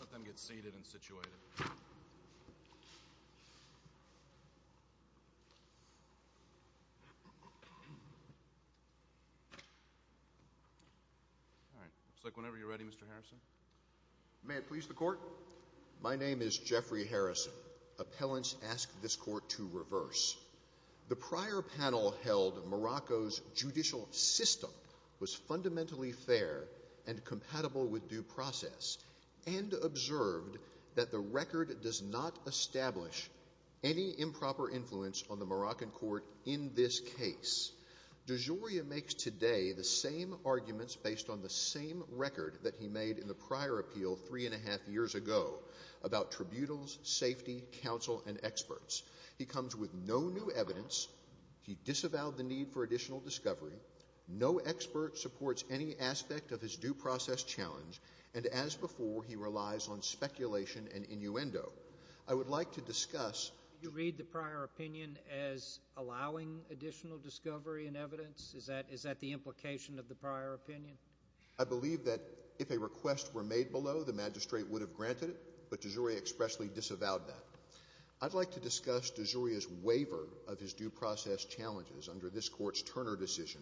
Let them get seated and situated. All right, it looks like whenever you're ready, Mr. Harrison. My name is Jeffrey Harrison. Appellants ask this court to reverse. The prior panel held Morocco's judicial system was fundamentally fair and compatible with due process and observed that the record does not establish any improper influence on the Moroccan court in this case. DeJoria makes today the same arguments based on the same record that he made in the prior appeal three and a half years ago about tributals, safety, counsel, and experts. He comes with no new evidence. He disavowed the need for additional discovery. No expert supports any aspect of his due process challenge. And as before, he relies on speculation and innuendo. I would like to discuss. You read the prior opinion as allowing additional discovery and evidence? Is that the implication of the prior opinion? I believe that if a request were made below, the magistrate would have granted it, but DeJoria expressly disavowed that. I'd like to discuss DeJoria's waiver of his due process challenges under this court's Turner decision,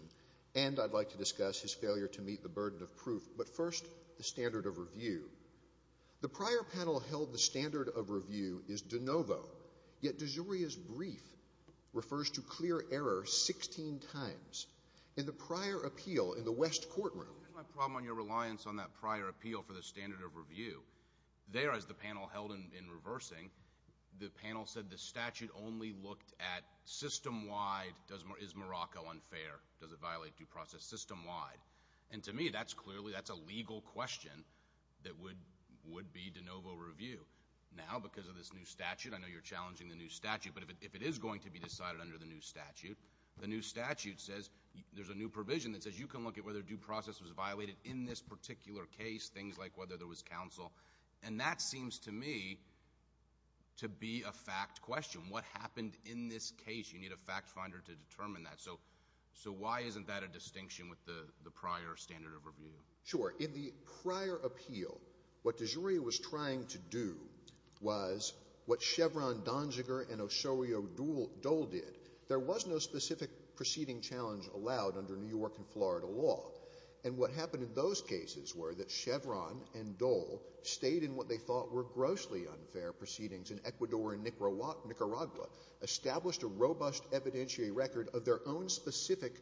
and I'd like to discuss his failure to meet the burden of proof. But first, the standard of review. The prior panel held the standard of review is de novo, yet DeJoria's brief refers to clear error 16 times. In the prior appeal in the West courtroom. There's my problem on your reliance on that prior appeal for the standard of review. There, as the panel held in reversing, the panel said the statute only looked at system-wide, is Morocco unfair? Does it violate due process system-wide? And to me, that's clearly, that's a legal question that would be de novo review. Now, because of this new statute, I know you're challenging the new statute, but if it is going to be decided under the new statute, the new statute says, there's a new provision that says, you can look at whether due process was violated in this particular case, things like whether there was counsel. And that seems to me to be a fact question. What happened in this case? You need a fact finder to determine that. So why isn't that a distinction with the prior standard of review? Sure, in the prior appeal, what DeJoria was trying to do was what Chevron, Donziger, and Osorio Dole did. There was no specific proceeding challenge allowed under New York and Florida law. And what happened in those cases were that Chevron and Dole stayed in what they thought were grossly unfair proceedings in Ecuador and Nicaragua, established a robust evidentiary record of their own specific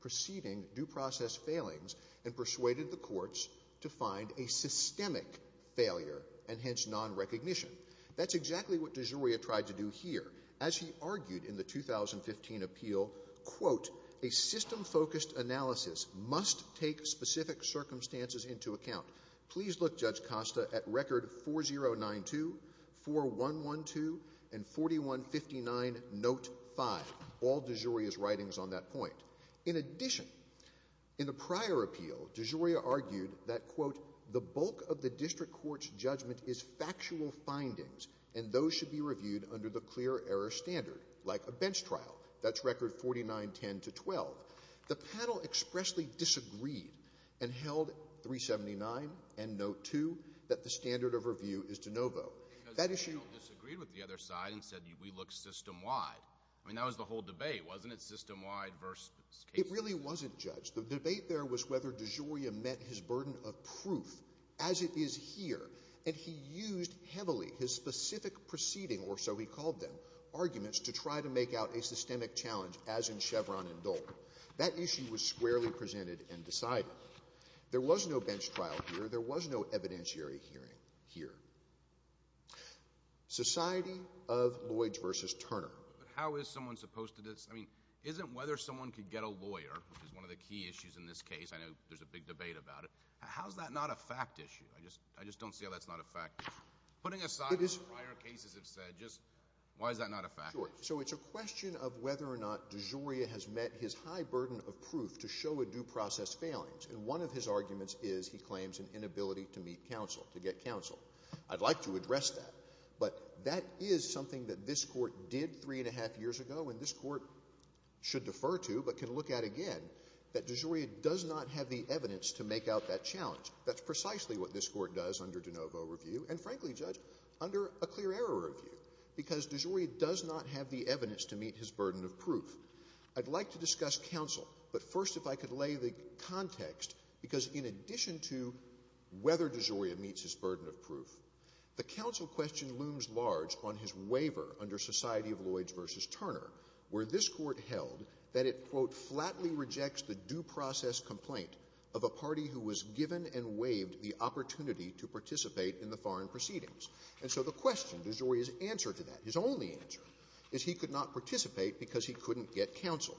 proceeding, due process failings, and persuaded the courts to find a systemic failure and hence non-recognition. That's exactly what DeJoria tried to do here. As he argued in the 2015 appeal, quote, a system-focused analysis must take specific circumstances into account. Please look, Judge Costa, at record 4092, 4112, and 4159 note five, all DeJoria's writings on that point. In addition, in the prior appeal, DeJoria argued that, quote, the bulk of the district court's judgment is factual findings, and those should be reviewed under the clear error standard, like a bench trial. That's record 4910 to 12. The panel expressly disagreed and held 379 and note two that the standard of review is de novo. That issue- The panel disagreed with the other side and said, we look system-wide. I mean, that was the whole debate, wasn't it? System-wide versus case- It really wasn't, Judge. The debate there was whether DeJoria met his burden of proof as it is here, and he used heavily his specific proceeding, or so he called them, arguments to try to make out a systemic challenge, as in Chevron and Dole. That issue was squarely presented and decided. There was no bench trial here. There was no evidentiary hearing here. Society of Lloyds versus Turner. How is someone supposed to- I mean, isn't whether someone could get a lawyer, which is one of the key issues in this case, I know there's a big debate about it, how's that not a fact issue? I just don't see how that's not a fact issue. Putting aside what prior cases have said, why is that not a fact issue? So it's a question of whether or not DeJoria has met his high burden of proof to show a due process failings, and one of his arguments is he claims an inability to meet counsel, to get counsel. I'd like to address that, but that is something that this court did three and a half years ago, and this court should defer to, but can look at again, that DeJoria does not have the evidence to make out that challenge. That's precisely what this court does under DeNovo review, and frankly, Judge, under a clear error review, because DeJoria does not have the evidence to meet his burden of proof. I'd like to discuss counsel, but first if I could lay the context, because in addition to whether DeJoria meets his burden of proof, the counsel question looms large on his waiver under Society of Lloyds versus Turner, where this court held that it, quote, of a party who was given and waived the opportunity to participate in the foreign proceedings. And so the question, DeJoria's answer to that, his only answer, is he could not participate because he couldn't get counsel.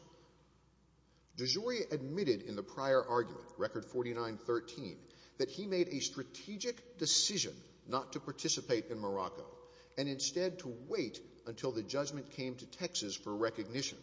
DeJoria admitted in the prior argument, record 4913, that he made a strategic decision not to participate in Morocco, and instead to wait until the judgment came to Texas for recognition.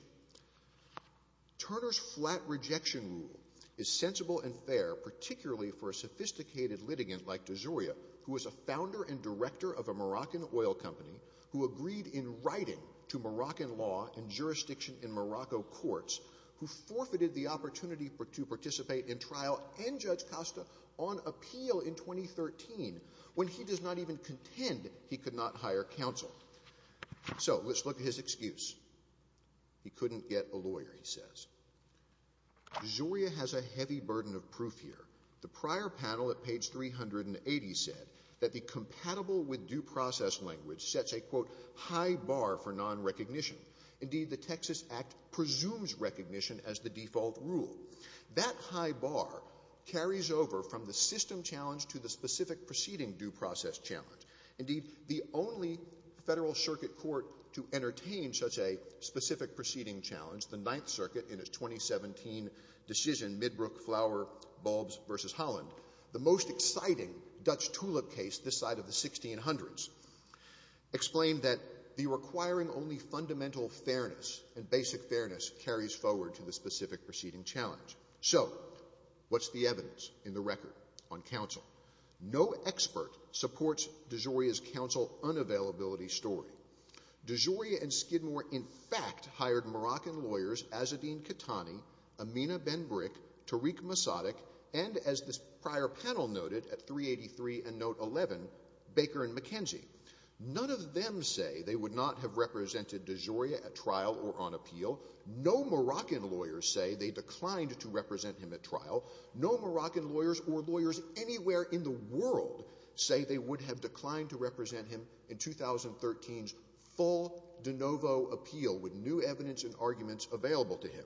Turner's flat rejection rule is sensible and fair, particularly for a sophisticated litigant like DeJoria, who was a founder and director of a Moroccan oil company, who agreed in writing to Moroccan law and jurisdiction in Morocco courts, who forfeited the opportunity to participate in trial and Judge Costa on appeal in 2013, when he does not even contend he could not hire counsel. So let's look at his excuse. He couldn't get a lawyer, he says. DeJoria has a heavy burden of proof here. The prior panel at page 380 said that the compatible with due process language sets a, quote, high bar for non-recognition. Indeed, the Texas Act presumes recognition as the default rule. That high bar carries over from the system challenge to the specific proceeding due process challenge. Indeed, the only federal circuit court to entertain such a specific proceeding challenge, the Ninth Circuit, in its 2017 decision, Midbrook-Flower-Bulbs v. Holland, the most exciting Dutch tulip case this side of the 1600s, explained that the requiring only fundamental fairness and basic fairness carries forward to the specific proceeding challenge. So what's the evidence in the record on counsel? No expert supports DeJoria's counsel unavailability story. DeJoria and Skidmore in fact hired Moroccan lawyers, Azzedine Catani, Amina Benbrick, Tariq Mosaddegh, and as this prior panel noted at 383 and note 11, Baker and McKenzie. None of them say they would not have represented DeJoria at trial or on appeal. No Moroccan lawyers say they declined to represent him at trial. No Moroccan lawyers or lawyers anywhere in the world say they would have declined to represent him in 2013's full de novo appeal with new evidence and arguments available to him.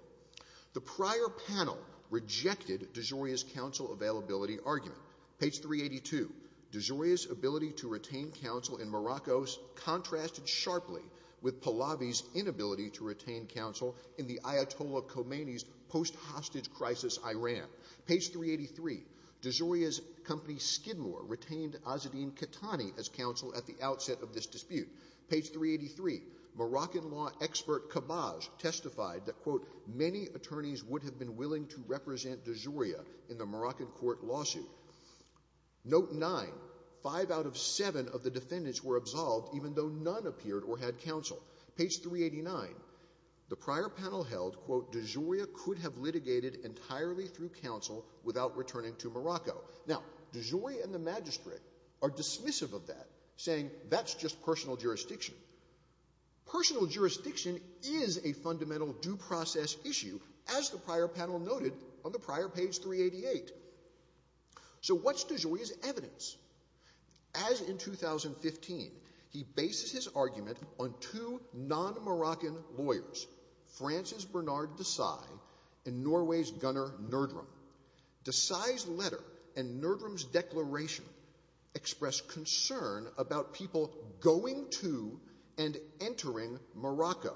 The prior panel rejected DeJoria's counsel availability argument. Page 382, DeJoria's ability to retain counsel in Morocco contrasted sharply with Pallavi's inability to retain counsel in the Ayatollah Khomeini's post hostage crisis Iran. Page 383, DeJoria's company Skidmore retained Azzedine Catani as counsel at the outset of this dispute. Page 383, Moroccan law expert Khabaz testified that, quote, many attorneys would have been willing to represent DeJoria in the Moroccan court lawsuit. Note nine, five out of seven of the defendants were absolved even though none appeared or had counsel. Page 389, the prior panel held, quote, DeJoria could have litigated entirely through counsel without returning to Morocco. Now, DeJoria and the magistrate are dismissive of that, saying that's just personal jurisdiction. Personal jurisdiction is a fundamental due process issue as the prior panel noted on the prior page 388. So what's DeJoria's evidence? As in 2015, he bases his argument on two non-Moroccan lawyers, Francis Bernard Desai and Norway's Gunnar Nørdrum. Desai's letter and Nørdrum's declaration express concern about people going to and entering Morocco.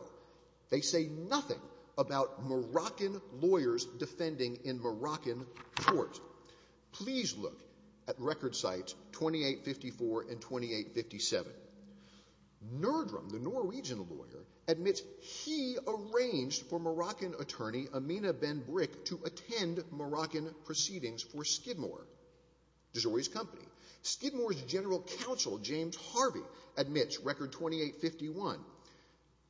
They say nothing about Moroccan lawyers defending in Moroccan court. Please look at record sites 2854 and 2857. Nørdrum, the Norwegian lawyer, admits he arranged for Moroccan attorney Amina Ben-Brik to attend Moroccan proceedings for Skidmore, Desai's company. Skidmore's general counsel, James Harvey, admits, record 2851,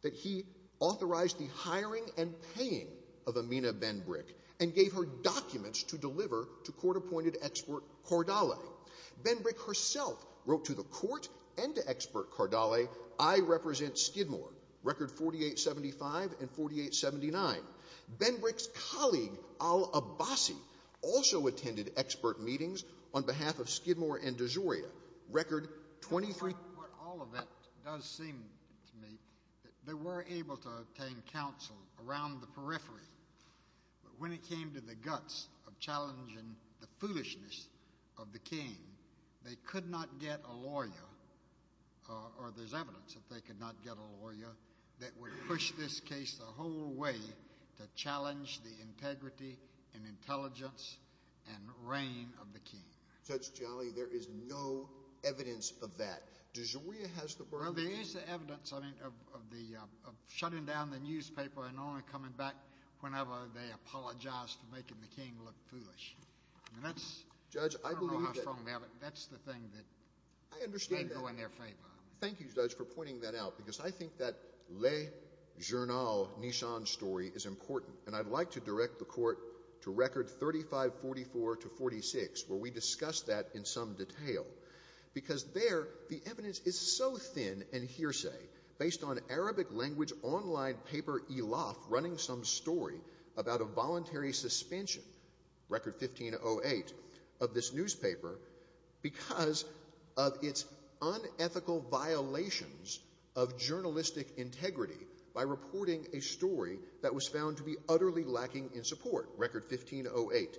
that he authorized the hiring and paying of Amina Ben-Brik and gave her documents to deliver to court-appointed expert Cordale. Ben-Brik herself wrote to the court and to expert Cordale, I represent Skidmore, record 4875 and 4879. Ben-Brik's colleague Al-Abbasi also attended expert meetings on behalf of Skidmore and Desai, record 23. What all of that does seem to me, they were able to obtain counsel around the periphery, but when it came to the guts of challenging the foolishness of the king, they could not get a lawyer or there's evidence that they could not get a lawyer that would push this case the whole way to challenge the integrity and intelligence and reign of the king. Judge Jolly, there is no evidence of that. Desai has the burden. Well, there is the evidence of the, shutting down the newspaper and only coming back whenever they apologize for making the king look foolish. I mean, that's- Judge, I believe that- I don't know how far they are, but that's the thing that- I understand that. They go in their favor. Thank you, Judge, for pointing that out, because I think that Le Journal Nissan story is important, and I'd like to direct the court to record 3544 to 46, where we discuss that in some detail. Because there, the evidence is so thin and hearsay, based on Arabic language online paper, Elof running some story about a voluntary suspension, record 1508, of this newspaper, because of its unethical violations of journalistic integrity by reporting a story that was found to be utterly lacking in support, record 1508.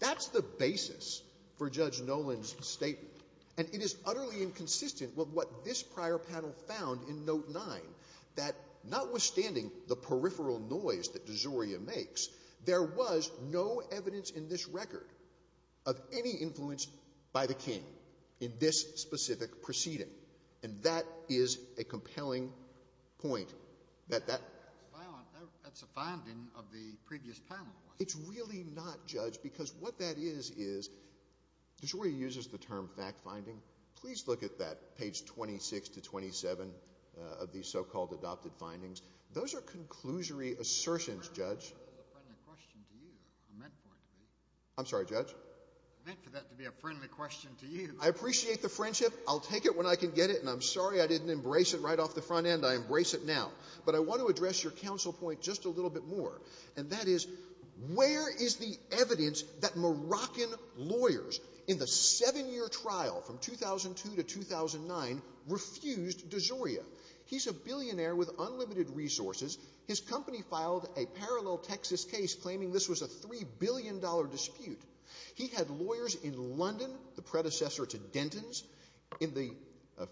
That's the basis for Judge Nolan's statement. And it is utterly inconsistent with what this prior panel found in note nine, that notwithstanding the peripheral noise that DeZoria makes, there was no evidence in this record of any influence by the king in this specific proceeding. And that is a compelling point that that- That's a finding of the previous panel. It's really not, Judge, because what that is, is DeZoria uses the term fact-finding. Please look at that, page 26 to 27 of these so-called adopted findings. Those are conclusory assertions, Judge. I meant for that to be a friendly question to you. I'm sorry, Judge? I meant for that to be a friendly question to you. I appreciate the friendship. I'll take it when I can get it, and I'm sorry I didn't embrace it right off the front end. I embrace it now. But I want to address your counsel point just a little bit more. And that is, where is the evidence that Moroccan lawyers in the seven-year trial from 2002 to 2009 refused DeZoria? He's a billionaire with unlimited resources. His company filed a parallel Texas case claiming this was a $3 billion dispute. He had lawyers in London, the predecessor to Denton's, in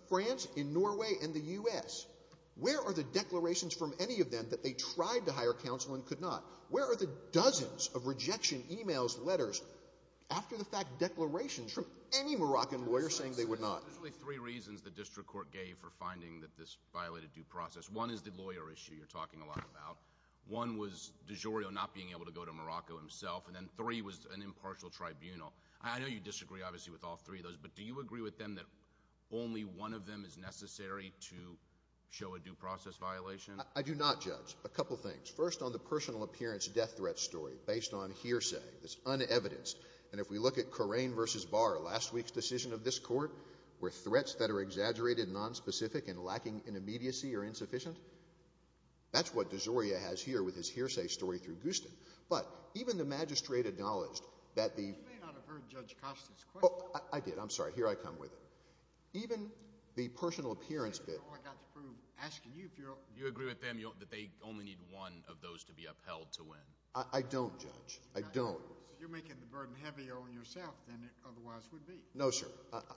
France, in Norway, and the U.S. Where are the declarations from any of them that they tried to hire counsel and could not? Where are the dozens of rejection emails, letters, after-the-fact declarations from any Moroccan lawyer saying they would not? There's really three reasons the district court gave for finding that this violated due process. One is the lawyer issue you're talking a lot about. One was DeZoria not being able to go to Morocco himself, and then three was an impartial tribunal. I know you disagree, obviously, with all three of those, but do you agree with them that only one of them is necessary to show a due process violation? I do not, Judge. A couple things. First, on the personal appearance death threat story based on hearsay that's un-evidenced, and if we look at Corain v. Barr, last week's decision of this court, where threats that are exaggerated, nonspecific, and lacking in immediacy are insufficient, that's what DeZoria has here with his hearsay story through Gustin. But even the magistrate acknowledged that the- You may not have heard Judge Costa's question. I did, I'm sorry. Here I come with it. Even the personal appearance bit- All I got to prove, asking you if you're- You agree with them that they only need one of those to be upheld to win? I don't, Judge. I don't. You're making the burden heavier on yourself than it otherwise would be. No, sir.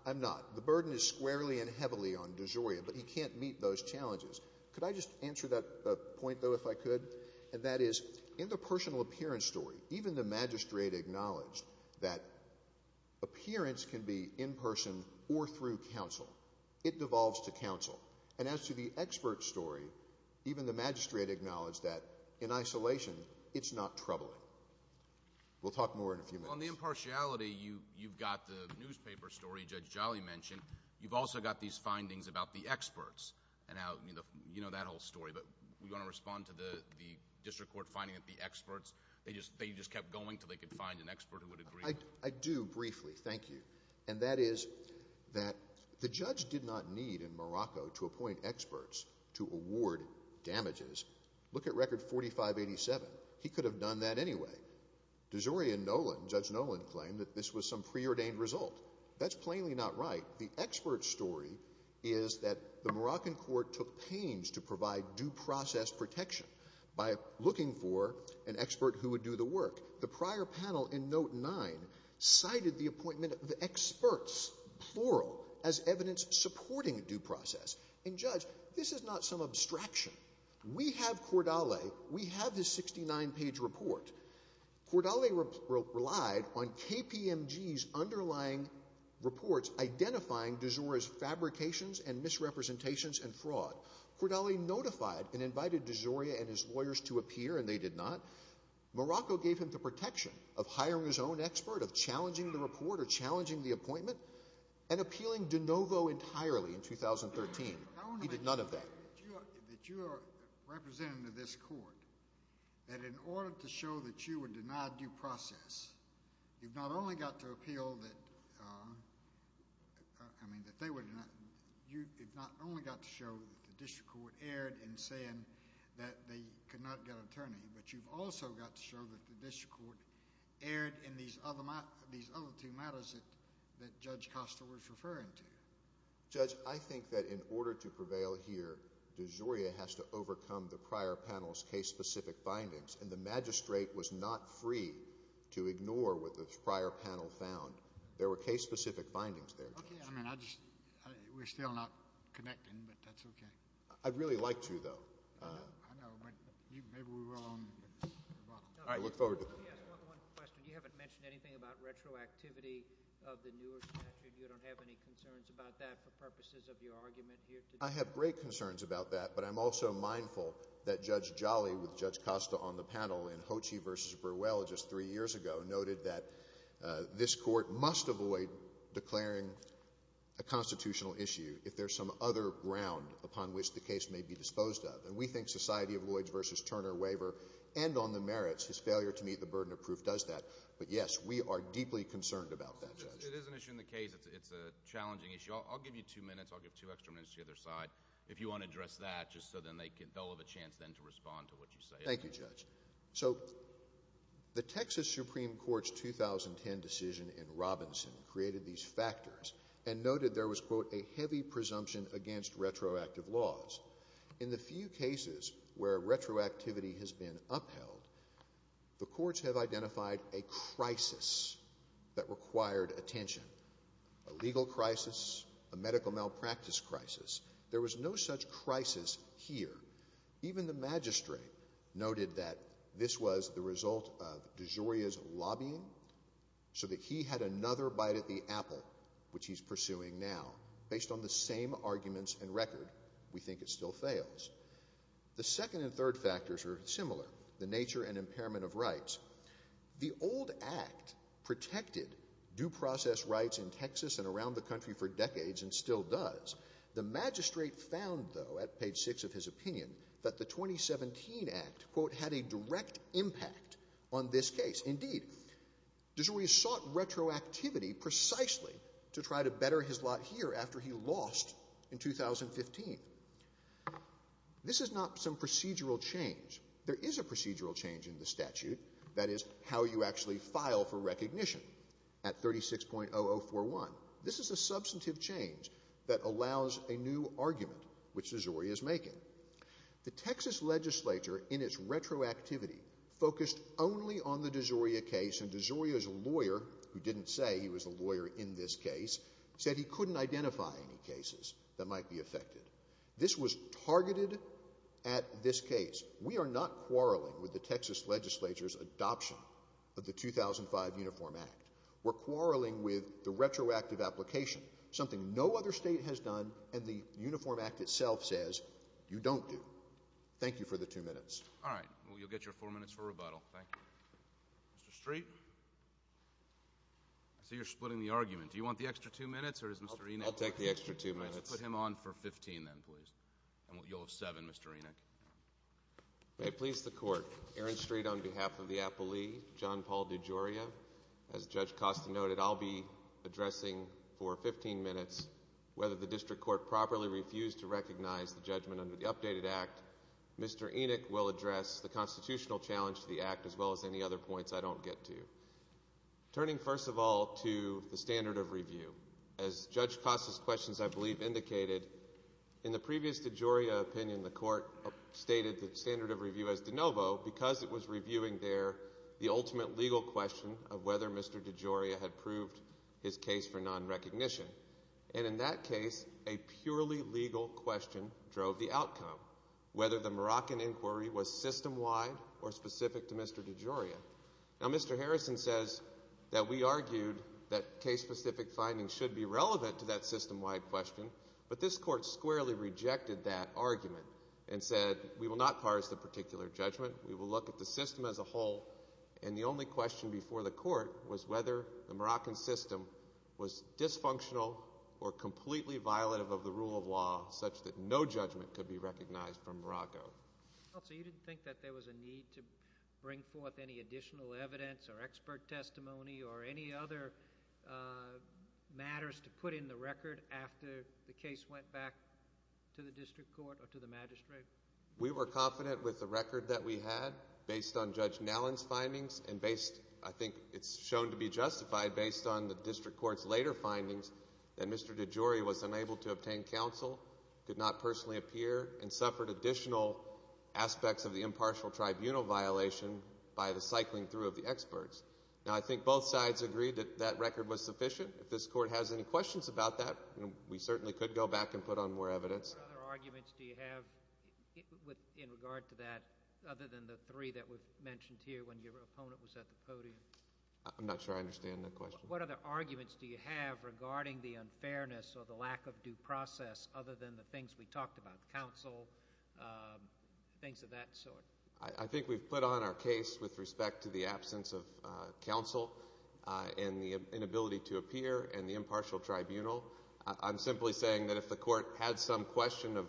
I'm not. The burden is squarely and heavily on DeZoria, but he can't meet those challenges. Could I just answer that point, though, if I could? And that is, in the personal appearance story, even the magistrate acknowledged that appearance can be in person or through counsel. It devolves to counsel. And as to the expert story, even the magistrate acknowledged that, in isolation, it's not troubling. We'll talk more in a few minutes. On the impartiality, you've got the newspaper story Judge Jolly mentioned. You've also got these findings about the experts, and how, you know, that whole story. But we want to respond to the district court finding that the experts, they just kept going till they could find an expert who would agree. I do, briefly, thank you. And that is that the judge did not need, in Morocco, to appoint experts to award damages. Look at Record 4587. He could have done that anyway. DeZoria and Nolan, Judge Nolan claimed that this was some preordained result. That's plainly not right. The expert story is that the Moroccan court took pains to provide due process protection by looking for an expert who would do the work. The prior panel in note nine, cited the appointment of the experts, plural, as evidence supporting due process. And Judge, this is not some abstraction. We have Cordale. We have his 69-page report. Cordale relied on KPMG's underlying reports identifying DeZoria's fabrications and misrepresentations and fraud. Cordale notified and invited DeZoria and his lawyers to appear, and they did not. Morocco gave him the protection of hiring his own expert, of challenging the report or challenging the appointment, and appealing de novo entirely in 2013. He did none of that. That you are representative of this court, that in order to show that you would deny due process, you've not only got to appeal that, I mean, that they would, you've not only got to show that the district court erred in saying that they could not get an attorney, but you've also got to show that the district court erred in these other two matters that Judge Costa was referring to. Judge, I think that in order to prevail here, DeZoria has to overcome the prior panel's case-specific findings, and the magistrate was not free to ignore what the prior panel found. There were case-specific findings there, Judge. Okay, I mean, I just, we're still not connecting, but that's okay. I'd really like to, though. I know, but maybe we were on the wrong. All right, look forward to it. Let me ask one question. You haven't mentioned anything about retroactivity of the newer statute. You don't have any concerns about that for purposes of your argument here today? I have great concerns about that, but I'm also mindful that Judge Jolly, with Judge Costa on the panel in Hochey v. Burwell just three years ago, noted that this court must avoid declaring a constitutional issue if there's some other ground upon which the case may be disposed of, and we think Society of Lloyds v. Turner waiver, and on the merits, his failure to meet the burden of proof does that, but yes, we are deeply concerned about that, Judge. It is an issue in the case. It's a challenging issue. I'll give you two minutes. I'll give two extra minutes to the other side if you want to address that, just so then they'll have a chance then to respond to what you say. Thank you, Judge. So the Texas Supreme Court's 2010 decision in Robinson created these factors and noted there was, quote, a heavy presumption against retroactive laws. In the few cases where retroactivity has been upheld, the courts have identified a crisis that required attention, a legal crisis, a medical malpractice crisis. There was no such crisis here. Even the magistrate noted that this was the result of DeGioia's lobbying so that he had another bite at the apple, which he's pursuing now, based on the same arguments and record. We think it still fails. The second and third factors are similar, the nature and impairment of rights. The old act protected due process rights in Texas and around the country for decades and still does. The magistrate found, though, at page six of his opinion, that the 2017 act, quote, had a direct impact on this case. Indeed, DeGioia sought retroactivity precisely to try to better his lot here after he lost in 2015. This is not some procedural change. There is a procedural change in the statute. That is, how you actually file for recognition at 36.0041. This is a substantive change that allows a new argument, which DeGioia is making. The Texas legislature, in its retroactivity, focused only on the DeGioia case, and DeGioia's lawyer, who didn't say he was a lawyer in this case, said he couldn't identify any cases that might be affected. This was targeted at this case. We are not quarreling with the Texas legislature's adoption of the 2005 Uniform Act. We're quarreling with the retroactive application, something no other state has done, and the Uniform Act itself says you don't do. Thank you for the two minutes. All right, well, you'll get your four minutes for rebuttal, thank you. Mr. Street? I see you're splitting the argument. Do you want the extra two minutes, or is Mr. Enoch? I'll take the extra two minutes. All right, just put him on for 15, then, please. And you'll have seven, Mr. Enoch. May it please the Court, Aaron Street on behalf of the applee, John Paul DeGioia. As Judge Costa noted, I'll be addressing for 15 minutes whether the district court properly refused to recognize the judgment under the updated act. Mr. Enoch will address the constitutional challenge to the act, as well as any other points I don't get to. Turning, first of all, to the standard of review. As Judge Costa's questions, I believe, indicated, in the previous DeGioia opinion, the Court stated the standard of review as de novo because it was reviewing there the ultimate legal question of whether Mr. DeGioia had proved his case for non-recognition. And in that case, a purely legal question drove the outcome, whether the Moroccan inquiry was system-wide or specific to Mr. DeGioia. Now, Mr. Harrison says that we argued that case-specific findings should be relevant to that system-wide question, but this Court squarely rejected that argument and said, we will not parse the particular judgment. We will look at the system as a whole. And the only question before the Court was whether the Moroccan system was dysfunctional or completely violative of the rule of law such that no judgment could be recognized from Morocco. Counsel, you didn't think that there was a need to bring forth any additional evidence or expert testimony or any other matters to put in the record after the case went back to the District Court or to the magistrate? We were confident with the record that we had based on Judge Nallon's findings and based, I think it's shown to be justified, based on the District Court's later findings that Mr. DeGioia was unable to obtain counsel, could not personally appear, and suffered additional aspects of the impartial tribunal violation by the cycling through of the experts. Now, I think both sides agreed that that record was sufficient. If this Court has any questions about that, we certainly could go back and put on more evidence. What other arguments do you have in regard to that other than the three that were mentioned here when your opponent was at the podium? I'm not sure I understand the question. What other arguments do you have regarding the unfairness or the lack of due process other than the things we talked about, counsel, things of that sort? I think we've put on our case with respect to the absence of counsel and the inability to appear and the impartial tribunal. I'm simply saying that if the Court had some question of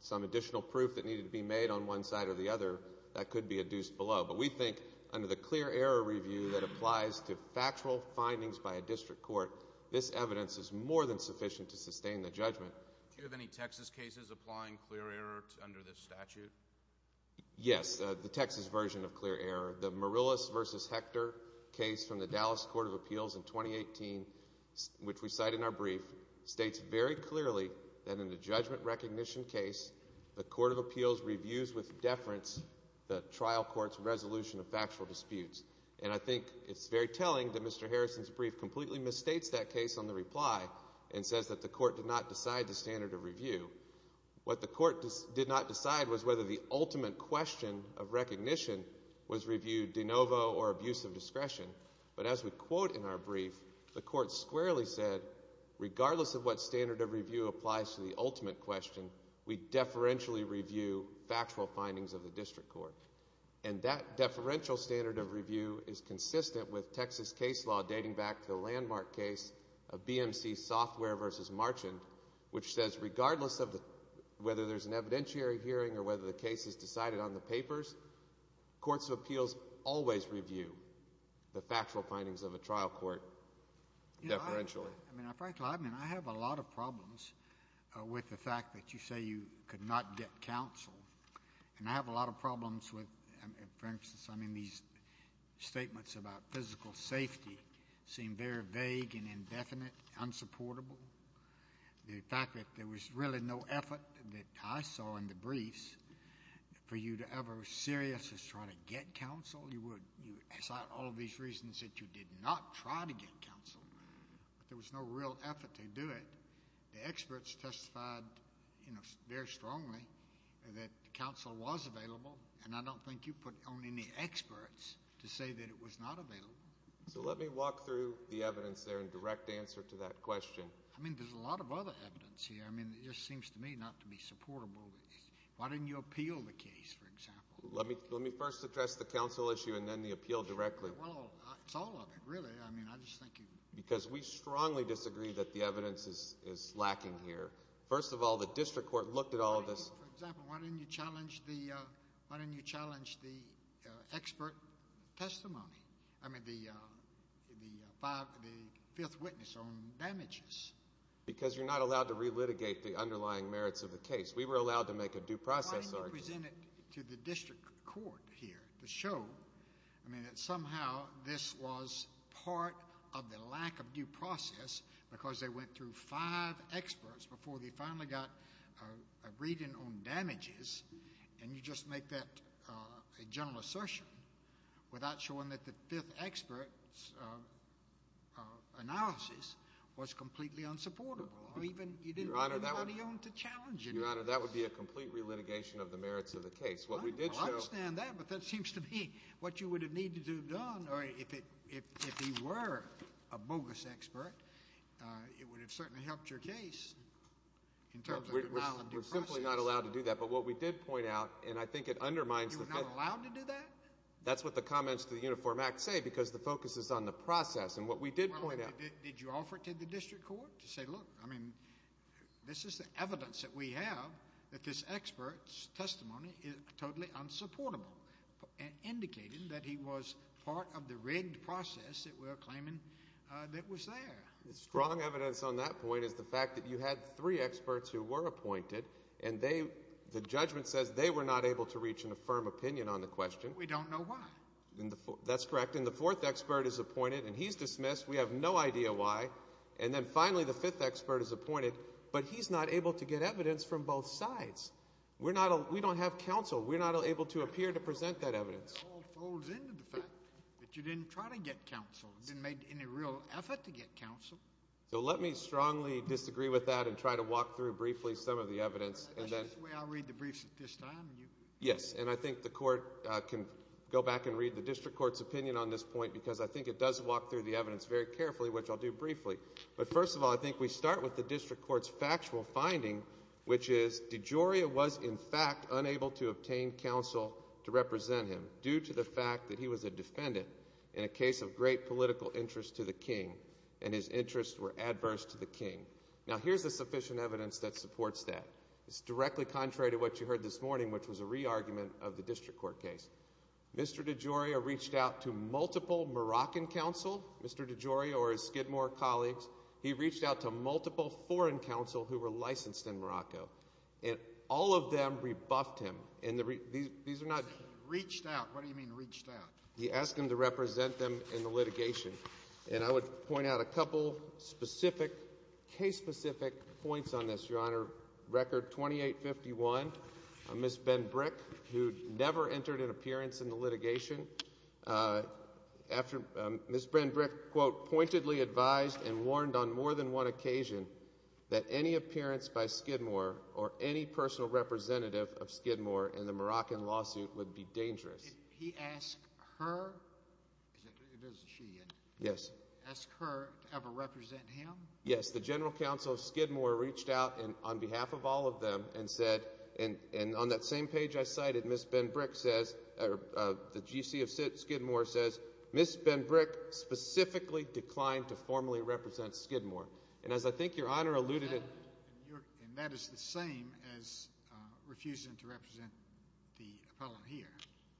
some additional proof that needed to be made on one side or the other, that could be adduced below. But we think under the clear error review that applies to factual findings by a District Court, this evidence is more than sufficient to sustain the judgment. Do you have any Texas cases applying clear error under this statute? Yes, the Texas version of clear error. The Morrillus v. Hector case from the Dallas Court of Appeals in 2018, which we cite in our brief, states very clearly that in the judgment recognition case, the Court of Appeals reviews with deference the trial court's resolution of factual disputes. And I think it's very telling that Mr. Harrison's brief completely misstates that case on the reply and says that the Court did not decide the standard of review. What the Court did not decide was whether the ultimate question of recognition was reviewed de novo or abuse of discretion. But as we quote in our brief, the Court squarely said, regardless of what standard of review applies to the ultimate question, we deferentially review factual findings of the District Court. And that deferential standard of review is consistent with Texas case law dating back to the landmark case of BMC Software v. Marchand, which says regardless of whether there's an evidentiary hearing or whether the case is decided on the papers, Courts of Appeals always review the factual findings of a trial court deferentially. I mean, frankly, I have a lot of problems with the fact that you say you could not get counsel. And I have a lot of problems with, for instance, I mean, these statements about physical safety seem very vague and indefinite, unsupportable. The fact that there was really no effort that I saw in the briefs for you to ever seriously try to get counsel, you would cite all of these reasons that you did not try to get counsel, but there was no real effort to do it. The experts testified very strongly that counsel was available, and I don't think you put on any experts to say that it was not available. So let me walk through the evidence there in direct answer to that question. I mean, there's a lot of other evidence here. I mean, it just seems to me not to be supportable. Why didn't you appeal the case, for example? Let me first address the counsel issue and then the appeal directly. Well, it's all of it, really. I mean, I just think you... Because we strongly disagree that the evidence is lacking here. First of all, the district court looked at all of this. For example, why didn't you challenge the, expert testimony? I mean, the fifth witness on damages. Because you're not allowed to relitigate the underlying merits of the case. We were allowed to make a due process argument. Why didn't you present it to the district court here to show, I mean, that somehow this was part of the lack of due process because they went through five experts before they finally got a reading on damages, and you just make that a general assertion without showing that the fifth expert's analysis was completely unsupportable? Or even, you didn't want anybody on to challenge it. Your Honor, that would be a complete relitigation of the merits of the case. What we did show... I understand that, but that seems to me what you would have needed to have done, or if he were a bogus expert, it would have certainly helped your case in terms of allowing due process. We're simply not allowed to do that, but what we did point out, and I think it undermines the... You were not allowed to do that? That's what the comments to the Uniform Act say because the focus is on the process, and what we did point out... Well, did you offer it to the district court to say, look, I mean, this is the evidence that we have that this expert's testimony is totally unsupportable, and indicated that he was part of the rigged process that we're claiming that was there. The strong evidence on that point is the fact that you had three experts who were appointed, and the judgment says they were not able to reach an affirm opinion on the question. We don't know why. That's correct, and the fourth expert is appointed, and he's dismissed. We have no idea why, and then finally, the fifth expert is appointed, but he's not able to get evidence from both sides. We don't have counsel. We're not able to appear to present that evidence. It all folds into the fact that you didn't try to get counsel. You didn't make any real effort to get counsel. So let me strongly disagree with that and try to walk through briefly some of the evidence, and then- I'll read the briefs at this time, and you- Yes, and I think the court can go back and read the district court's opinion on this point, because I think it does walk through the evidence very carefully, which I'll do briefly, but first of all, I think we start with the district court's factual finding, which is DeGioia was, in fact, unable to obtain counsel to represent him due to the fact that he was a defendant in a case of great political interest to the king, and his interests were adverse to the king. Now, here's the sufficient evidence that supports that. It's directly contrary to what you heard this morning, which was a re-argument of the district court case. Mr. DeGioia reached out to multiple Moroccan counsel, Mr. DeGioia or his Skidmore colleagues. He reached out to multiple foreign counsel who were licensed in Morocco, and all of them rebuffed him, and these are not- Reached out, what do you mean reached out? He asked him to represent them in the litigation, and I would point out a couple specific, case-specific points on this, Your Honor. Record 2851, Ms. Ben-Brick, who never entered an appearance in the litigation. Ms. Ben-Brick, quote, pointedly advised and warned on more than one occasion that any appearance by Skidmore or any personal representative of Skidmore in the Moroccan lawsuit would be dangerous. He asked her, is it, or is it she? Yes. Asked her to ever represent him? Yes, the general counsel of Skidmore reached out on behalf of all of them and said, and on that same page I cited, Ms. Ben-Brick says, the GC of Skidmore says, Ms. Ben-Brick specifically declined to formally represent Skidmore, and as I think Your Honor alluded to- And that is the same as refusing to represent the appellant here.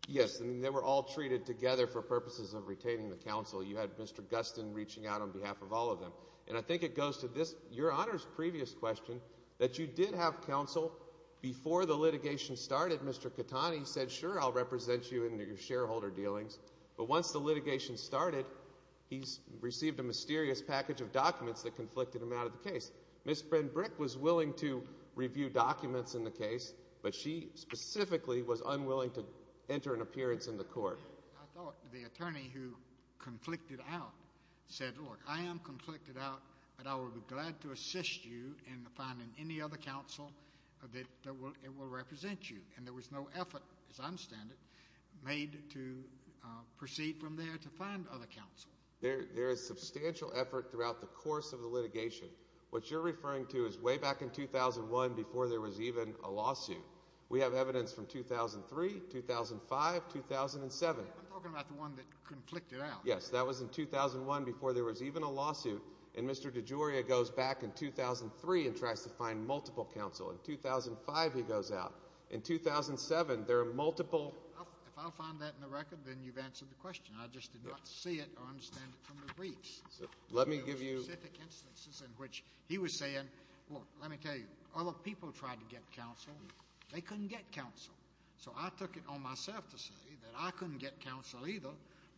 Yes, and they were all treated together for purposes of retaining the counsel. You had Mr. Gustin reaching out on behalf of all of them, and I think it goes to this, Your Honor's previous question, that you did have counsel before the litigation started. Mr. Catani said, sure, I'll represent you in your shareholder dealings, but once the litigation started, he received a mysterious package of documents that conflicted him out of the case. Ms. Ben-Brick was willing to review documents in the case, but she specifically was unwilling to enter an appearance in the court. I thought the attorney who conflicted out said, look, I am conflicted out, but I will be glad to assist you in finding any other counsel that will represent you, and there was no effort, as I understand it, made to proceed from there to find other counsel. There is substantial effort throughout the course of the litigation. What you're referring to is way back in 2001, before there was even a lawsuit. We have evidence from 2003, 2005, 2007. I'm talking about the one that conflicted out. Yes, that was in 2001, before there was even a lawsuit, and Mr. DeGioia goes back in 2003 and tries to find multiple counsel. In 2005, he goes out. In 2007, there are multiple... If I'll find that in the record, then you've answered the question. I just did not see it or understand it from the briefs. Let me give you... There were specific instances in which he was saying, well, let me tell you, other people tried to get counsel. They couldn't get counsel. So I took it on myself to say that I couldn't get counsel either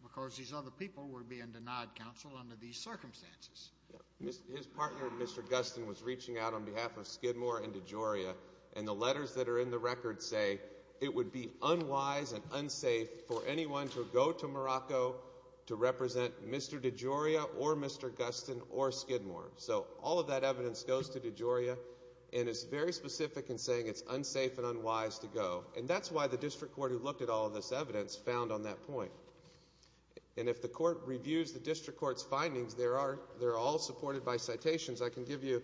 because these other people were being denied counsel under these circumstances. His partner, Mr. Gustin, was reaching out on behalf of Skidmore and DeGioia, and the letters that are in the record say, it would be unwise and unsafe for anyone to go to Morocco to represent Mr. DeGioia or Mr. Gustin or Skidmore. So all of that evidence goes to DeGioia and is very specific in saying it's unsafe and unwise to go. And that's why the district court who looked at all of this evidence found on that point. And if the court reviews the district court's findings, they're all supported by citations. I can give you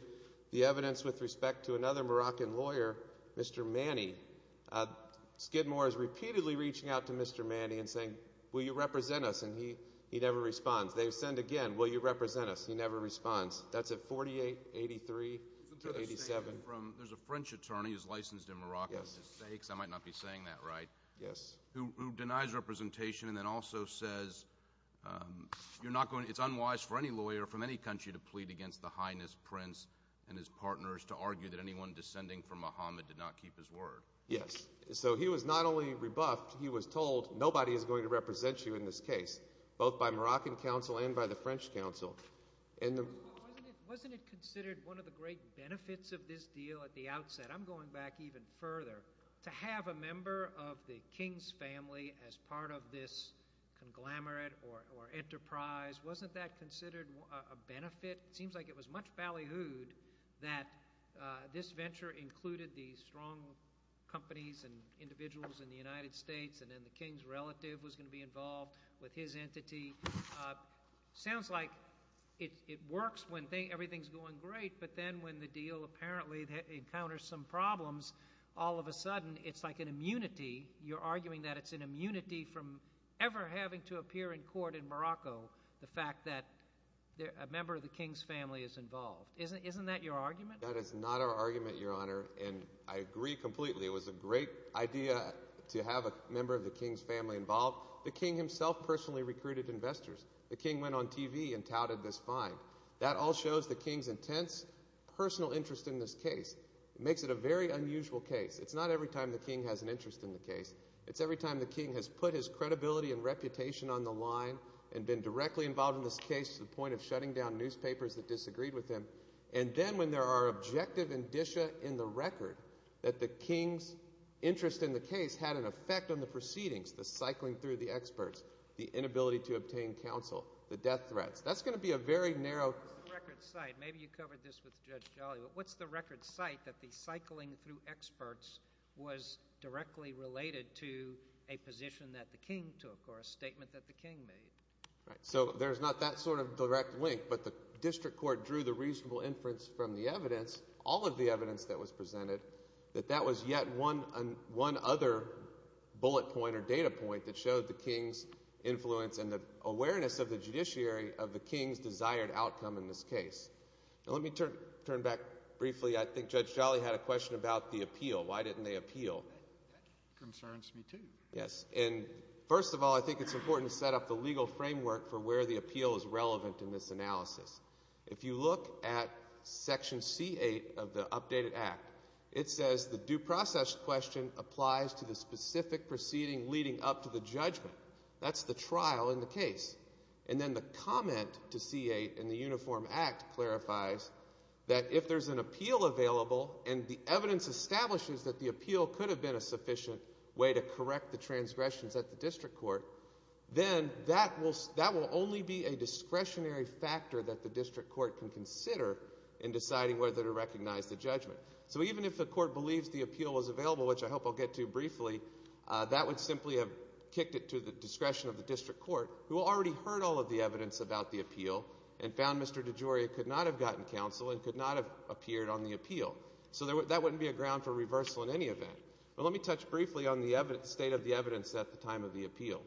the evidence with respect to another Moroccan lawyer, Mr. Manny. Skidmore is repeatedly reaching out to Mr. Manny and saying, will you represent us? And he never responds. They send again, will you represent us? He never responds. That's at 4883 to 87. There's a French attorney who's licensed in Morocco to say, because I might not be saying that right, who denies representation and then also says, it's unwise for any lawyer from any country to plead against the Highness Prince and his partners to argue that anyone descending from Mohammed did not keep his word. Yes. So he was not only rebuffed, he was told nobody is going to represent you in this case, both by Moroccan counsel and by the French counsel. Wasn't it considered one of the great benefits of this deal at the outset? I'm going back even further. To have a member of the King's family as part of this conglomerate or enterprise, wasn't that considered a benefit? It seems like it was much ballyhooed that this venture included the strong companies and individuals in the United States and then the King's relative was going to be involved with his entity. Sounds like it works when everything's going great, but then when the deal apparently encounters some problems, all of a sudden it's like an immunity. You're arguing that it's an immunity from ever having to appear in court in Morocco, the fact that a member of the King's family is involved. Isn't that your argument? That is not our argument, Your Honor. And I agree completely. It was a great idea to have a member of the King's family involved. The King himself personally recruited investors. The King went on TV and touted this find. That all shows the King's intense personal interest in this case. It makes it a very unusual case. It's not every time the King has an interest in the case. It's every time the King has put his credibility and reputation on the line and been directly involved in this case to the point of shutting down newspapers that disagreed with him. And then when there are objective indicia in the record that the King's interest in the case had an effect on the proceedings, the cycling through the experts, the inability to obtain counsel, the death threats. That's gonna be a very narrow- What's the record site? Maybe you covered this with Judge Jolly, but what's the record site that the cycling through experts was directly related to a position that the King took or a statement that the King made? Right, so there's not that sort of direct link, but the district court drew the reasonable inference from the evidence, all of the evidence that was presented, that that was yet one other bullet point or data point that showed the King's influence and the awareness of the judiciary of the King's desired outcome in this case. Now, let me turn back briefly. I think Judge Jolly had a question about the appeal. Why didn't they appeal? Concerns me too. Yes, and first of all, I think it's important to set up the legal framework for where the appeal is relevant in this analysis. If you look at section C-8 of the updated act, it says the due process question applies to the specific proceeding leading up to the judgment. That's the trial in the case. And then the comment to C-8 in the Uniform Act clarifies that if there's an appeal available and the evidence establishes that the appeal could have been a sufficient way to correct the transgressions at the district court, then that will only be a discretionary factor that the district court can consider in deciding whether to recognize the judgment. So even if the court believes the appeal is available, which I hope I'll get to briefly, that would simply have kicked it to the discretion of the district court who already heard all of the evidence about the appeal and found Mr. DeGioia could not have gotten counsel and could not have appeared on the appeal. So that wouldn't be a ground for reversal in any event. But let me touch briefly on the state of the evidence at the time of the appeal.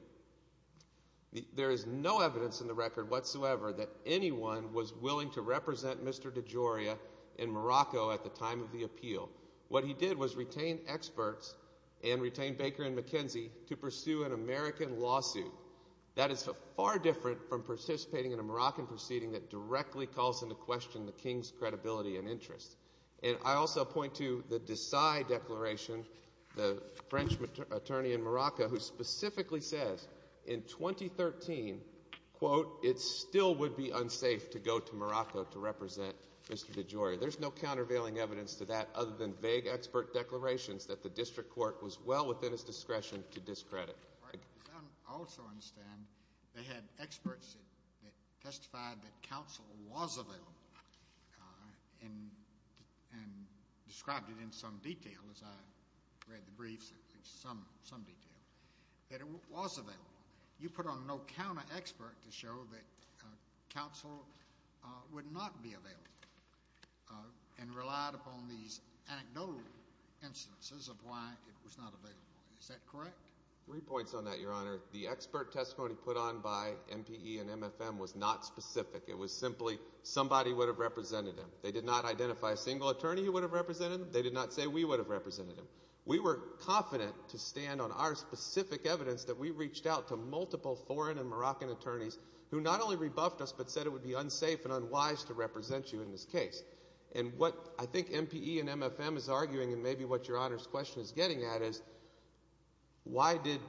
There is no evidence in the record whatsoever that anyone was willing to represent Mr. DeGioia in Morocco at the time of the appeal. What he did was retain experts and retain Baker and McKenzie to pursue an American lawsuit. That is far different from participating in a Moroccan proceeding that directly calls into question the King's credibility and interest. And I also point to the Dessai Declaration, the French attorney in Morocco who specifically says, in 2013, quote, it still would be unsafe to go to Morocco to represent Mr. DeGioia. There's no countervailing evidence to that other than vague expert declarations that the district court was well within its discretion to discredit. Right. I also understand they had experts that testified that counsel was available and described it in some detail, as I read the briefs, some detail, that it was available. You put on no counter expert to show that counsel would not be available and relied upon these anecdotal instances of why it was not available. Is that correct? Three points on that, Your Honor. The expert testimony put on by MPE and MFM was not specific. It was simply somebody would have represented him. They did not identify a single attorney who would have represented him. They did not say we would have represented him. We were confident to stand on our specific evidence that we reached out to multiple foreign and Moroccan attorneys who not only rebuffed us but said it would be unsafe and unwise to represent you in this case. And what I think MPE and MFM is arguing and maybe what Your Honor's question is getting at is why did,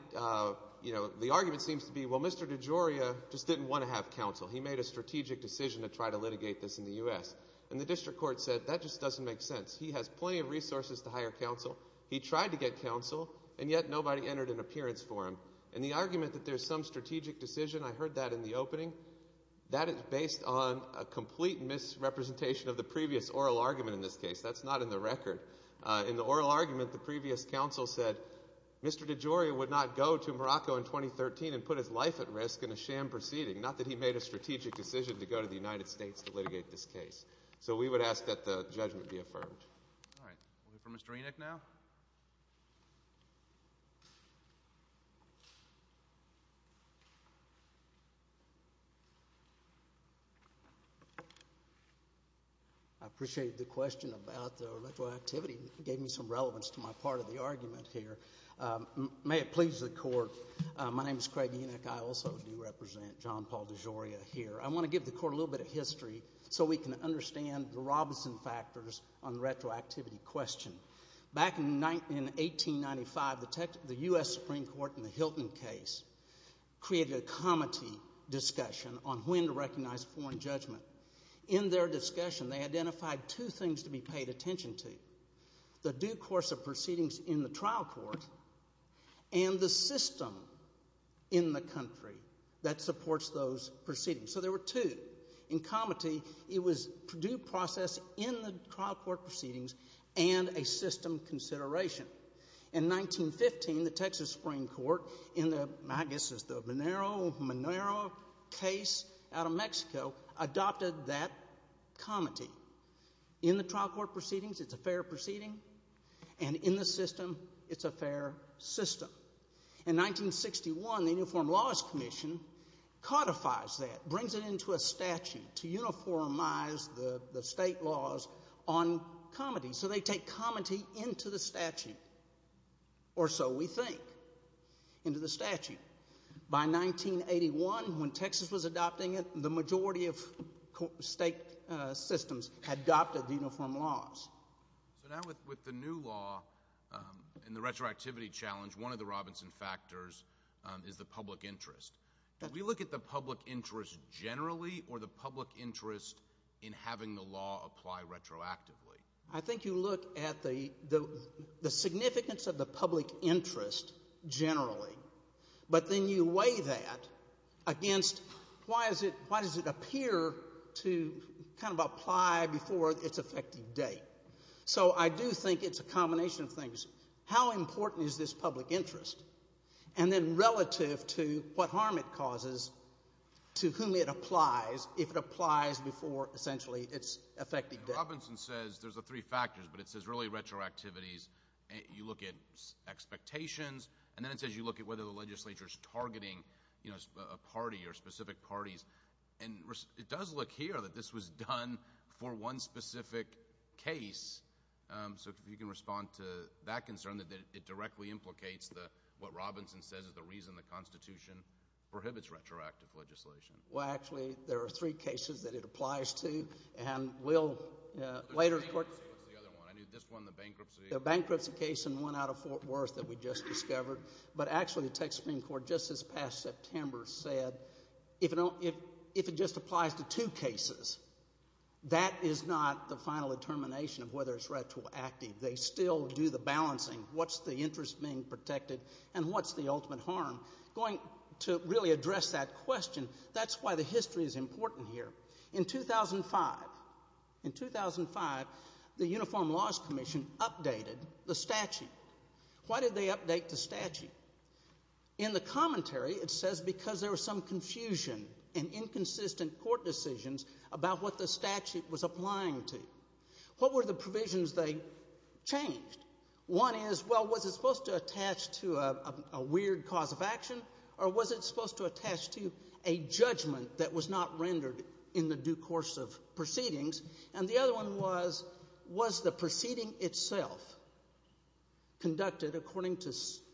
you know, the argument seems to be, well, Mr. DeGioia just didn't want to have counsel. He made a strategic decision to try to litigate this in the U.S. And the district court said that just doesn't make sense. He has plenty of resources to hire counsel. He tried to get counsel and yet nobody entered an appearance for him. And the argument that there's some strategic decision, I heard that in the opening, that is based on a complete misrepresentation of the previous oral argument in this case. That's not in the record. In the oral argument, the previous counsel said Mr. DeGioia would not go to Morocco in 2013 and put his life at risk in a sham proceeding, not that he made a strategic decision to go to the United States to litigate this case. So we would ask that the judgment be affirmed. All right. We'll go for Mr. Enoch now. I appreciated the question about the electoral activity. Gave me some relevance to my part of the argument here. May it please the court, my name is Craig Enoch. I also do represent John Paul DeGioia here. I want to give the court a little bit of history so we can understand the Robinson factors on the retroactivity question. Back in 1895, the U.S. Supreme Court in the Hilton case created a comity discussion on when to recognize foreign judgment. In their discussion, they identified two things to be paid attention to, the due course of proceedings in the trial court and the system in the country that supports those proceedings. So there were two. In comity, it was due process in the trial court proceedings and a system consideration. In 1915, the Texas Supreme Court in the, I guess it's the Monero case out of Mexico, adopted that comity. In the trial court proceedings, it's a fair proceeding. And in the system, it's a fair system. In 1961, the Uniform Laws Commission codifies that, brings it into a statute to uniformize the state laws on comity. So they take comity into the statute, or so we think, into the statute. By 1981, when Texas was adopting it, the majority of state systems had adopted the Uniform Laws. So now with the new law and the retroactivity challenge, one of the Robinson factors is the public interest. Do we look at the public interest generally or the public interest in having the law apply retroactively? I think you look at the significance of the public interest generally, but then you weigh that against, why does it appear to kind of apply before its effective date? So I do think it's a combination of things. How important is this public interest? And then relative to what harm it causes, to whom it applies, if it applies before essentially its effective date. Robinson says, there's the three factors, but it says really retroactivities. You look at expectations, and then it says you look at whether the legislature's targeting a party or specific parties. And it does look here that this was done for one specific case. So if you can respond to that concern, that it directly implicates what Robinson says is the reason the Constitution prohibits retroactive legislation. Well, actually, there are three cases that it applies to, and we'll later report. What's the other one? I knew this one, the bankruptcy. The bankruptcy case and one out of Fort Worth that we just discovered. But actually, the Texas Supreme Court just this past September said, if it just applies to two cases, that is not the final determination of whether it's retroactive. They still do the balancing. What's the interest being protected, and what's the ultimate harm? Going to really address that question, that's why the history is important here. In 2005, in 2005, the Uniform Laws Commission updated the statute. Why did they update the statute? In the commentary, it says because there was some confusion and inconsistent court decisions about what the statute was applying to. What were the provisions they changed? One is, well, was it supposed to attach to a weird cause of action, or was it supposed to attach to a judgment that was not rendered in the due course of proceedings? And the other one was, was the proceeding itself conducted according to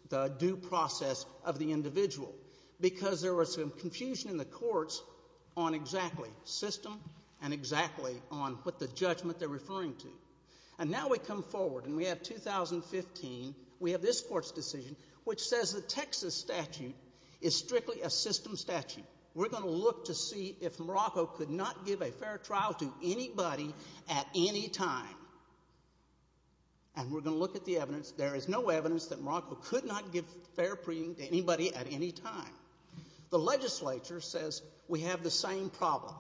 the due process of the individual? Because there was some confusion in the courts on exactly system and exactly on what the judgment they're referring to. And now we come forward, and we have 2015, we have this court's decision, which says the Texas statute is strictly a system statute. We're going to look to see if Morocco could not give a fair trial to anybody at any time. And we're going to look at the evidence. There is no evidence that Morocco could not give fair proceedings to anybody at any time. The legislature says we have the same problem.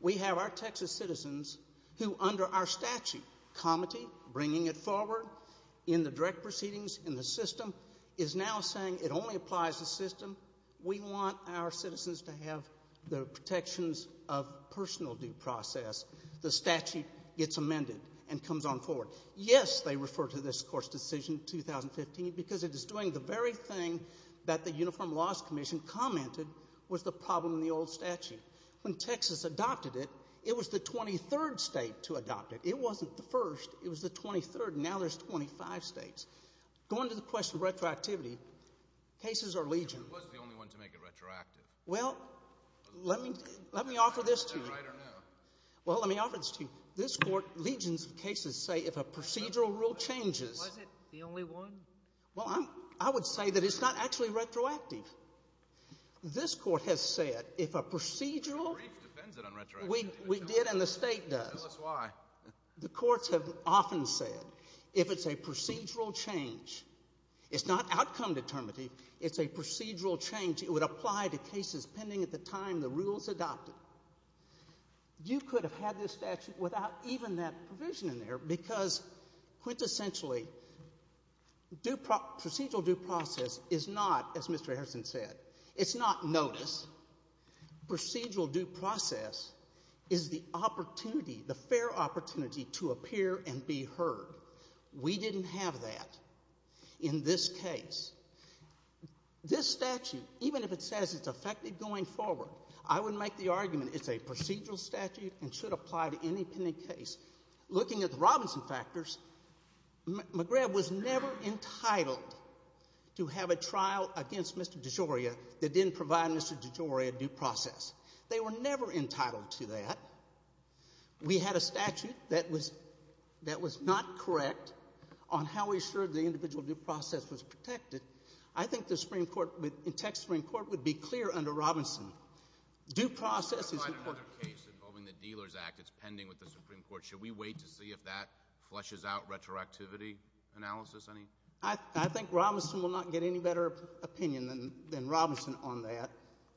We have our Texas citizens who, under our statute, comity, bringing it forward in the direct proceedings in the system, is now saying it only applies to system. We want our citizens to have the protections of personal due process. The statute gets amended and comes on forward. Yes, they refer to this court's decision, 2015, because it is doing the very thing that the Uniform Laws Commission commented was the problem in the old statute. When Texas adopted it, it was the 23rd state to adopt it. It wasn't the first. It was the 23rd. Now there's 25 states. Going to the question of retroactivity, cases are legion. It was the only one to make it retroactive. Well, let me offer this to you. Is that right or no? Well, let me offer this to you. This court, legions of cases say, if a procedural rule changes. Was it the only one? Well, I would say that it's not actually retroactive. This court has said, if a procedural. The brief defends it on retroactivity. We did and the state does. Tell us why. The courts have often said, if it's a procedural change, it's not outcome determinative, it's a procedural change. It would apply to cases pending at the time the rules adopted. You could have had this statute without even that provision in there, because quintessentially, procedural due process is not, as Mr. Harrison said, it's not notice. Procedural due process is the opportunity, the fair opportunity to appear and be heard. We didn't have that in this case. This statute, even if it says it's effective going forward, I would make the argument it's a procedural statute and should apply to any pending case. Looking at the Robinson factors, McGrath was never entitled to have a trial against Mr. DeGioia that didn't provide Mr. DeGioia due process. They were never entitled to that. We had a statute that was not correct on how we assured the individual due process was protected. I think the Supreme Court, in Texas Supreme Court, would be clear under Robinson. Due process is important. I've tried another case involving the Dealer's Act. It's pending with the Supreme Court. Should we wait to see if that flushes out retroactivity analysis? I think Robinson will not get any better opinion than Robinson on that.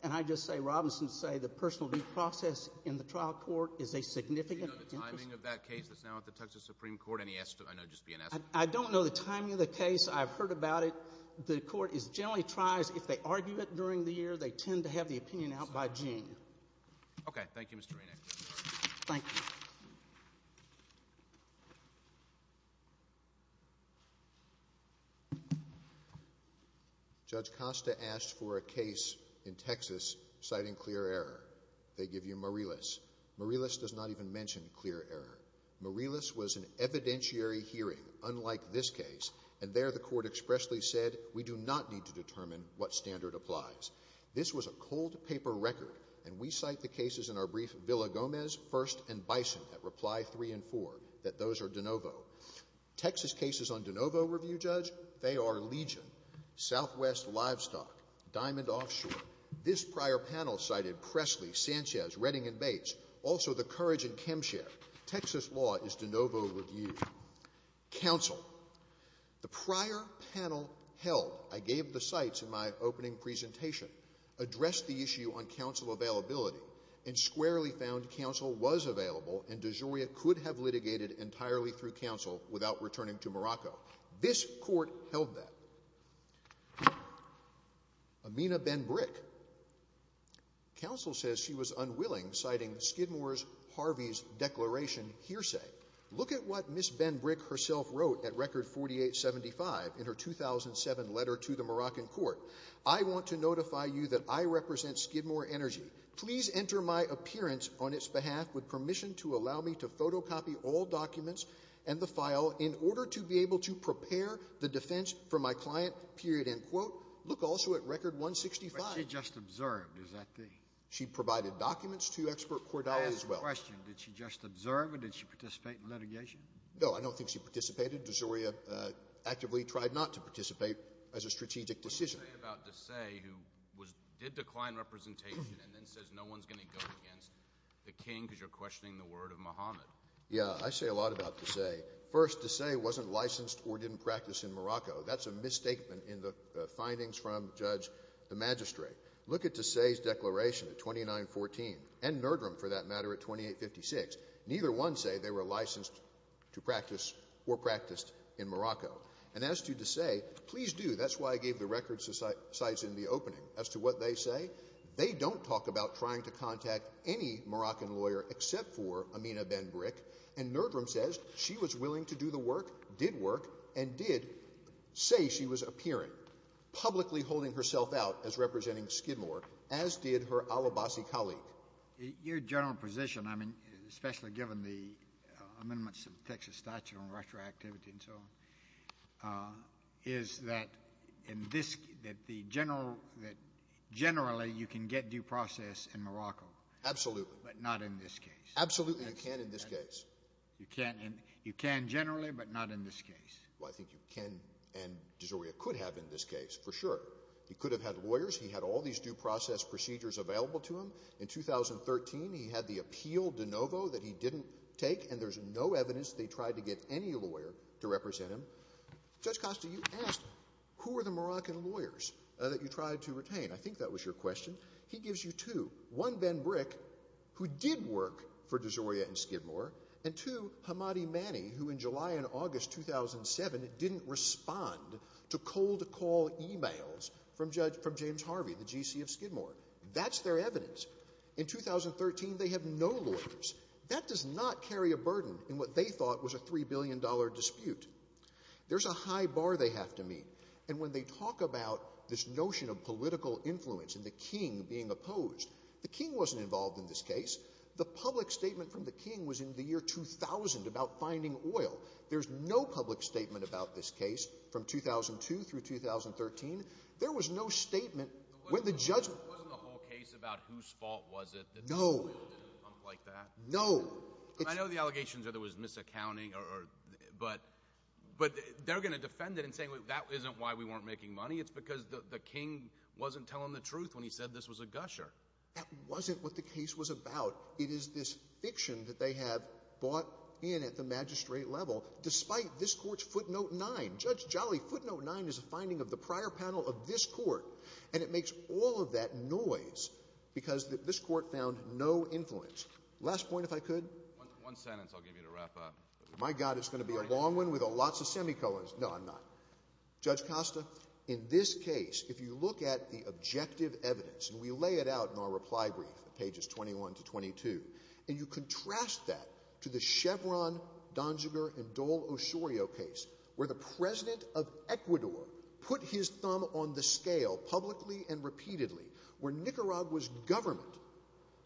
And I just say Robinson say the personal due process in the trial court is a significant interest. Do you know the timing of that case that's now at the Texas Supreme Court? Any estimate? I know it'd just be an estimate. I don't know the timing of the case. I've heard about it. The court generally tries, if they argue it during the year, they tend to have the opinion out by June. OK, thank you, Mr. Renick. Thank you. Judge Costa asked for a case in Texas citing clear error. They give you Marillis. Marillis does not even mention clear error. Marillis was an evidentiary hearing, unlike this case. And there the court expressly said, we do not need to determine what standard applies. This was a cold paper record. And we cite the cases in our brief Villa Gomez, First, and Bison at reply three and four, that those are de novo. Texas cases on de novo review, Judge, they are Legion, Southwest Livestock, Diamond Offshore. This prior panel cited Presley, Sanchez, Redding, and Bates. Also, the Courage and Kempshire. Texas law is de novo review. Counsel. The prior panel held, I gave the cites in my opening presentation, addressed the issue on counsel availability. And squarely found counsel was available, and DeGioia could have litigated entirely through counsel without returning to Morocco. This court held that. Amina Benbrick. Counsel says she was unwilling, citing Skidmore's Harvey's declaration hearsay. Look at what Ms. Benbrick herself wrote at record 4875 in her 2007 letter to the Moroccan court. I want to notify you that I represent Skidmore Energy. Please enter my appearance on its behalf with permission to allow me to photocopy all documents and the file in order to be able to prepare the defense for my client, period, end quote. Look also at record 165. But she just observed, is that the? She provided documents to expert Cordelli as well. I have a question. Did she just observe, or did she participate in litigation? No, I don't think she participated. DeGioia actively tried not to participate as a strategic decision. What do you say about Desai, who did decline representation and then says no one's going to go against the king because you're questioning the word of Muhammad? Yeah, I say a lot about Desai. First, Desai wasn't licensed or didn't practice in Morocco. That's a misstatement in the findings from Judge de Magistrate. Look at Desai's declaration at 2914, and Nerdrum, for that matter, at 2856. Neither one say they were licensed to practice or practiced in Morocco. And as to Desai, please do. That's why I gave the record sites in the opening. As to what they say, they don't talk about trying to contact any Moroccan lawyer except for Amina Ben Brick. And Nerdrum says she was willing to do the work, did work, and did say she was appearing, publicly holding herself out as representing Skidmore, as did her al-Abbasi colleague. Your general position, I mean, especially given the amendments of the Texas statute on retroactivity and so on, is that generally, you can get due process in Morocco. Absolutely. But not in this case. Absolutely, you can in this case. You can generally, but not in this case. Well, I think you can and Desai could have in this case, for sure. He could have had lawyers. He had all these due process procedures available to him. In 2013, he had the appeal de novo that he didn't take. And there's no evidence they tried to get any lawyer to represent him. Judge Costa, you asked, who were the Moroccan lawyers that you tried to retain? I think that was your question. He gives you two. One, Ben Brick, who did work for Desai and Skidmore. And two, Hamadi Mani, who in July and August 2007 didn't respond to cold call emails from Judge James Harvey, the GC of Skidmore. That's their evidence. In 2013, they have no lawyers. That does not carry a burden in what they thought was a $3 billion dispute. There's a high bar they have to meet. And when they talk about this notion of political influence and the king being opposed, the king wasn't involved in this case. The public statement from the king was in the year 2000 about finding oil. There's no public statement about this case from 2002 through 2013. There was no statement when the judge Wasn't the whole case about whose fault was it that this oil didn't pump like that? No. I know the allegations are there was misaccounting. But they're going to defend it and say, that isn't why we weren't making money. It's because the king wasn't telling the truth when he said this was a gusher. That wasn't what the case was about. It is this fiction that they have bought in at the magistrate level, despite this court's footnote 9. Judge Jolly, footnote 9 is a finding of the prior panel of this court. And it makes all of that noise because this court found no influence. Last point, if I could. One sentence, I'll give you to wrap up. My god, it's going to be a long one with lots of semicolons. No, I'm not. Judge Costa, in this case, if you look at the objective evidence, and we lay it out in our reply brief, pages 21 to 22, and you contrast that to the Chevron, Donziger, and Dole Osorio case, where the president of Ecuador put his thumb on the scale publicly and repeatedly, where Nicaragua's government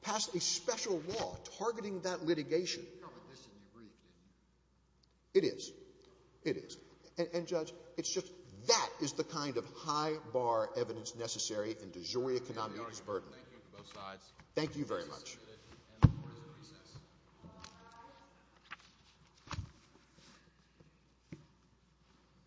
passed a special law targeting that litigation. You covered this in your brief, didn't you? It is. It is. And judge, it's just that is the kind of high bar evidence necessary in de jure economic disburden. Thank you to both sides. Thank you very much. Please be seated, and the court is at recess. Thank you.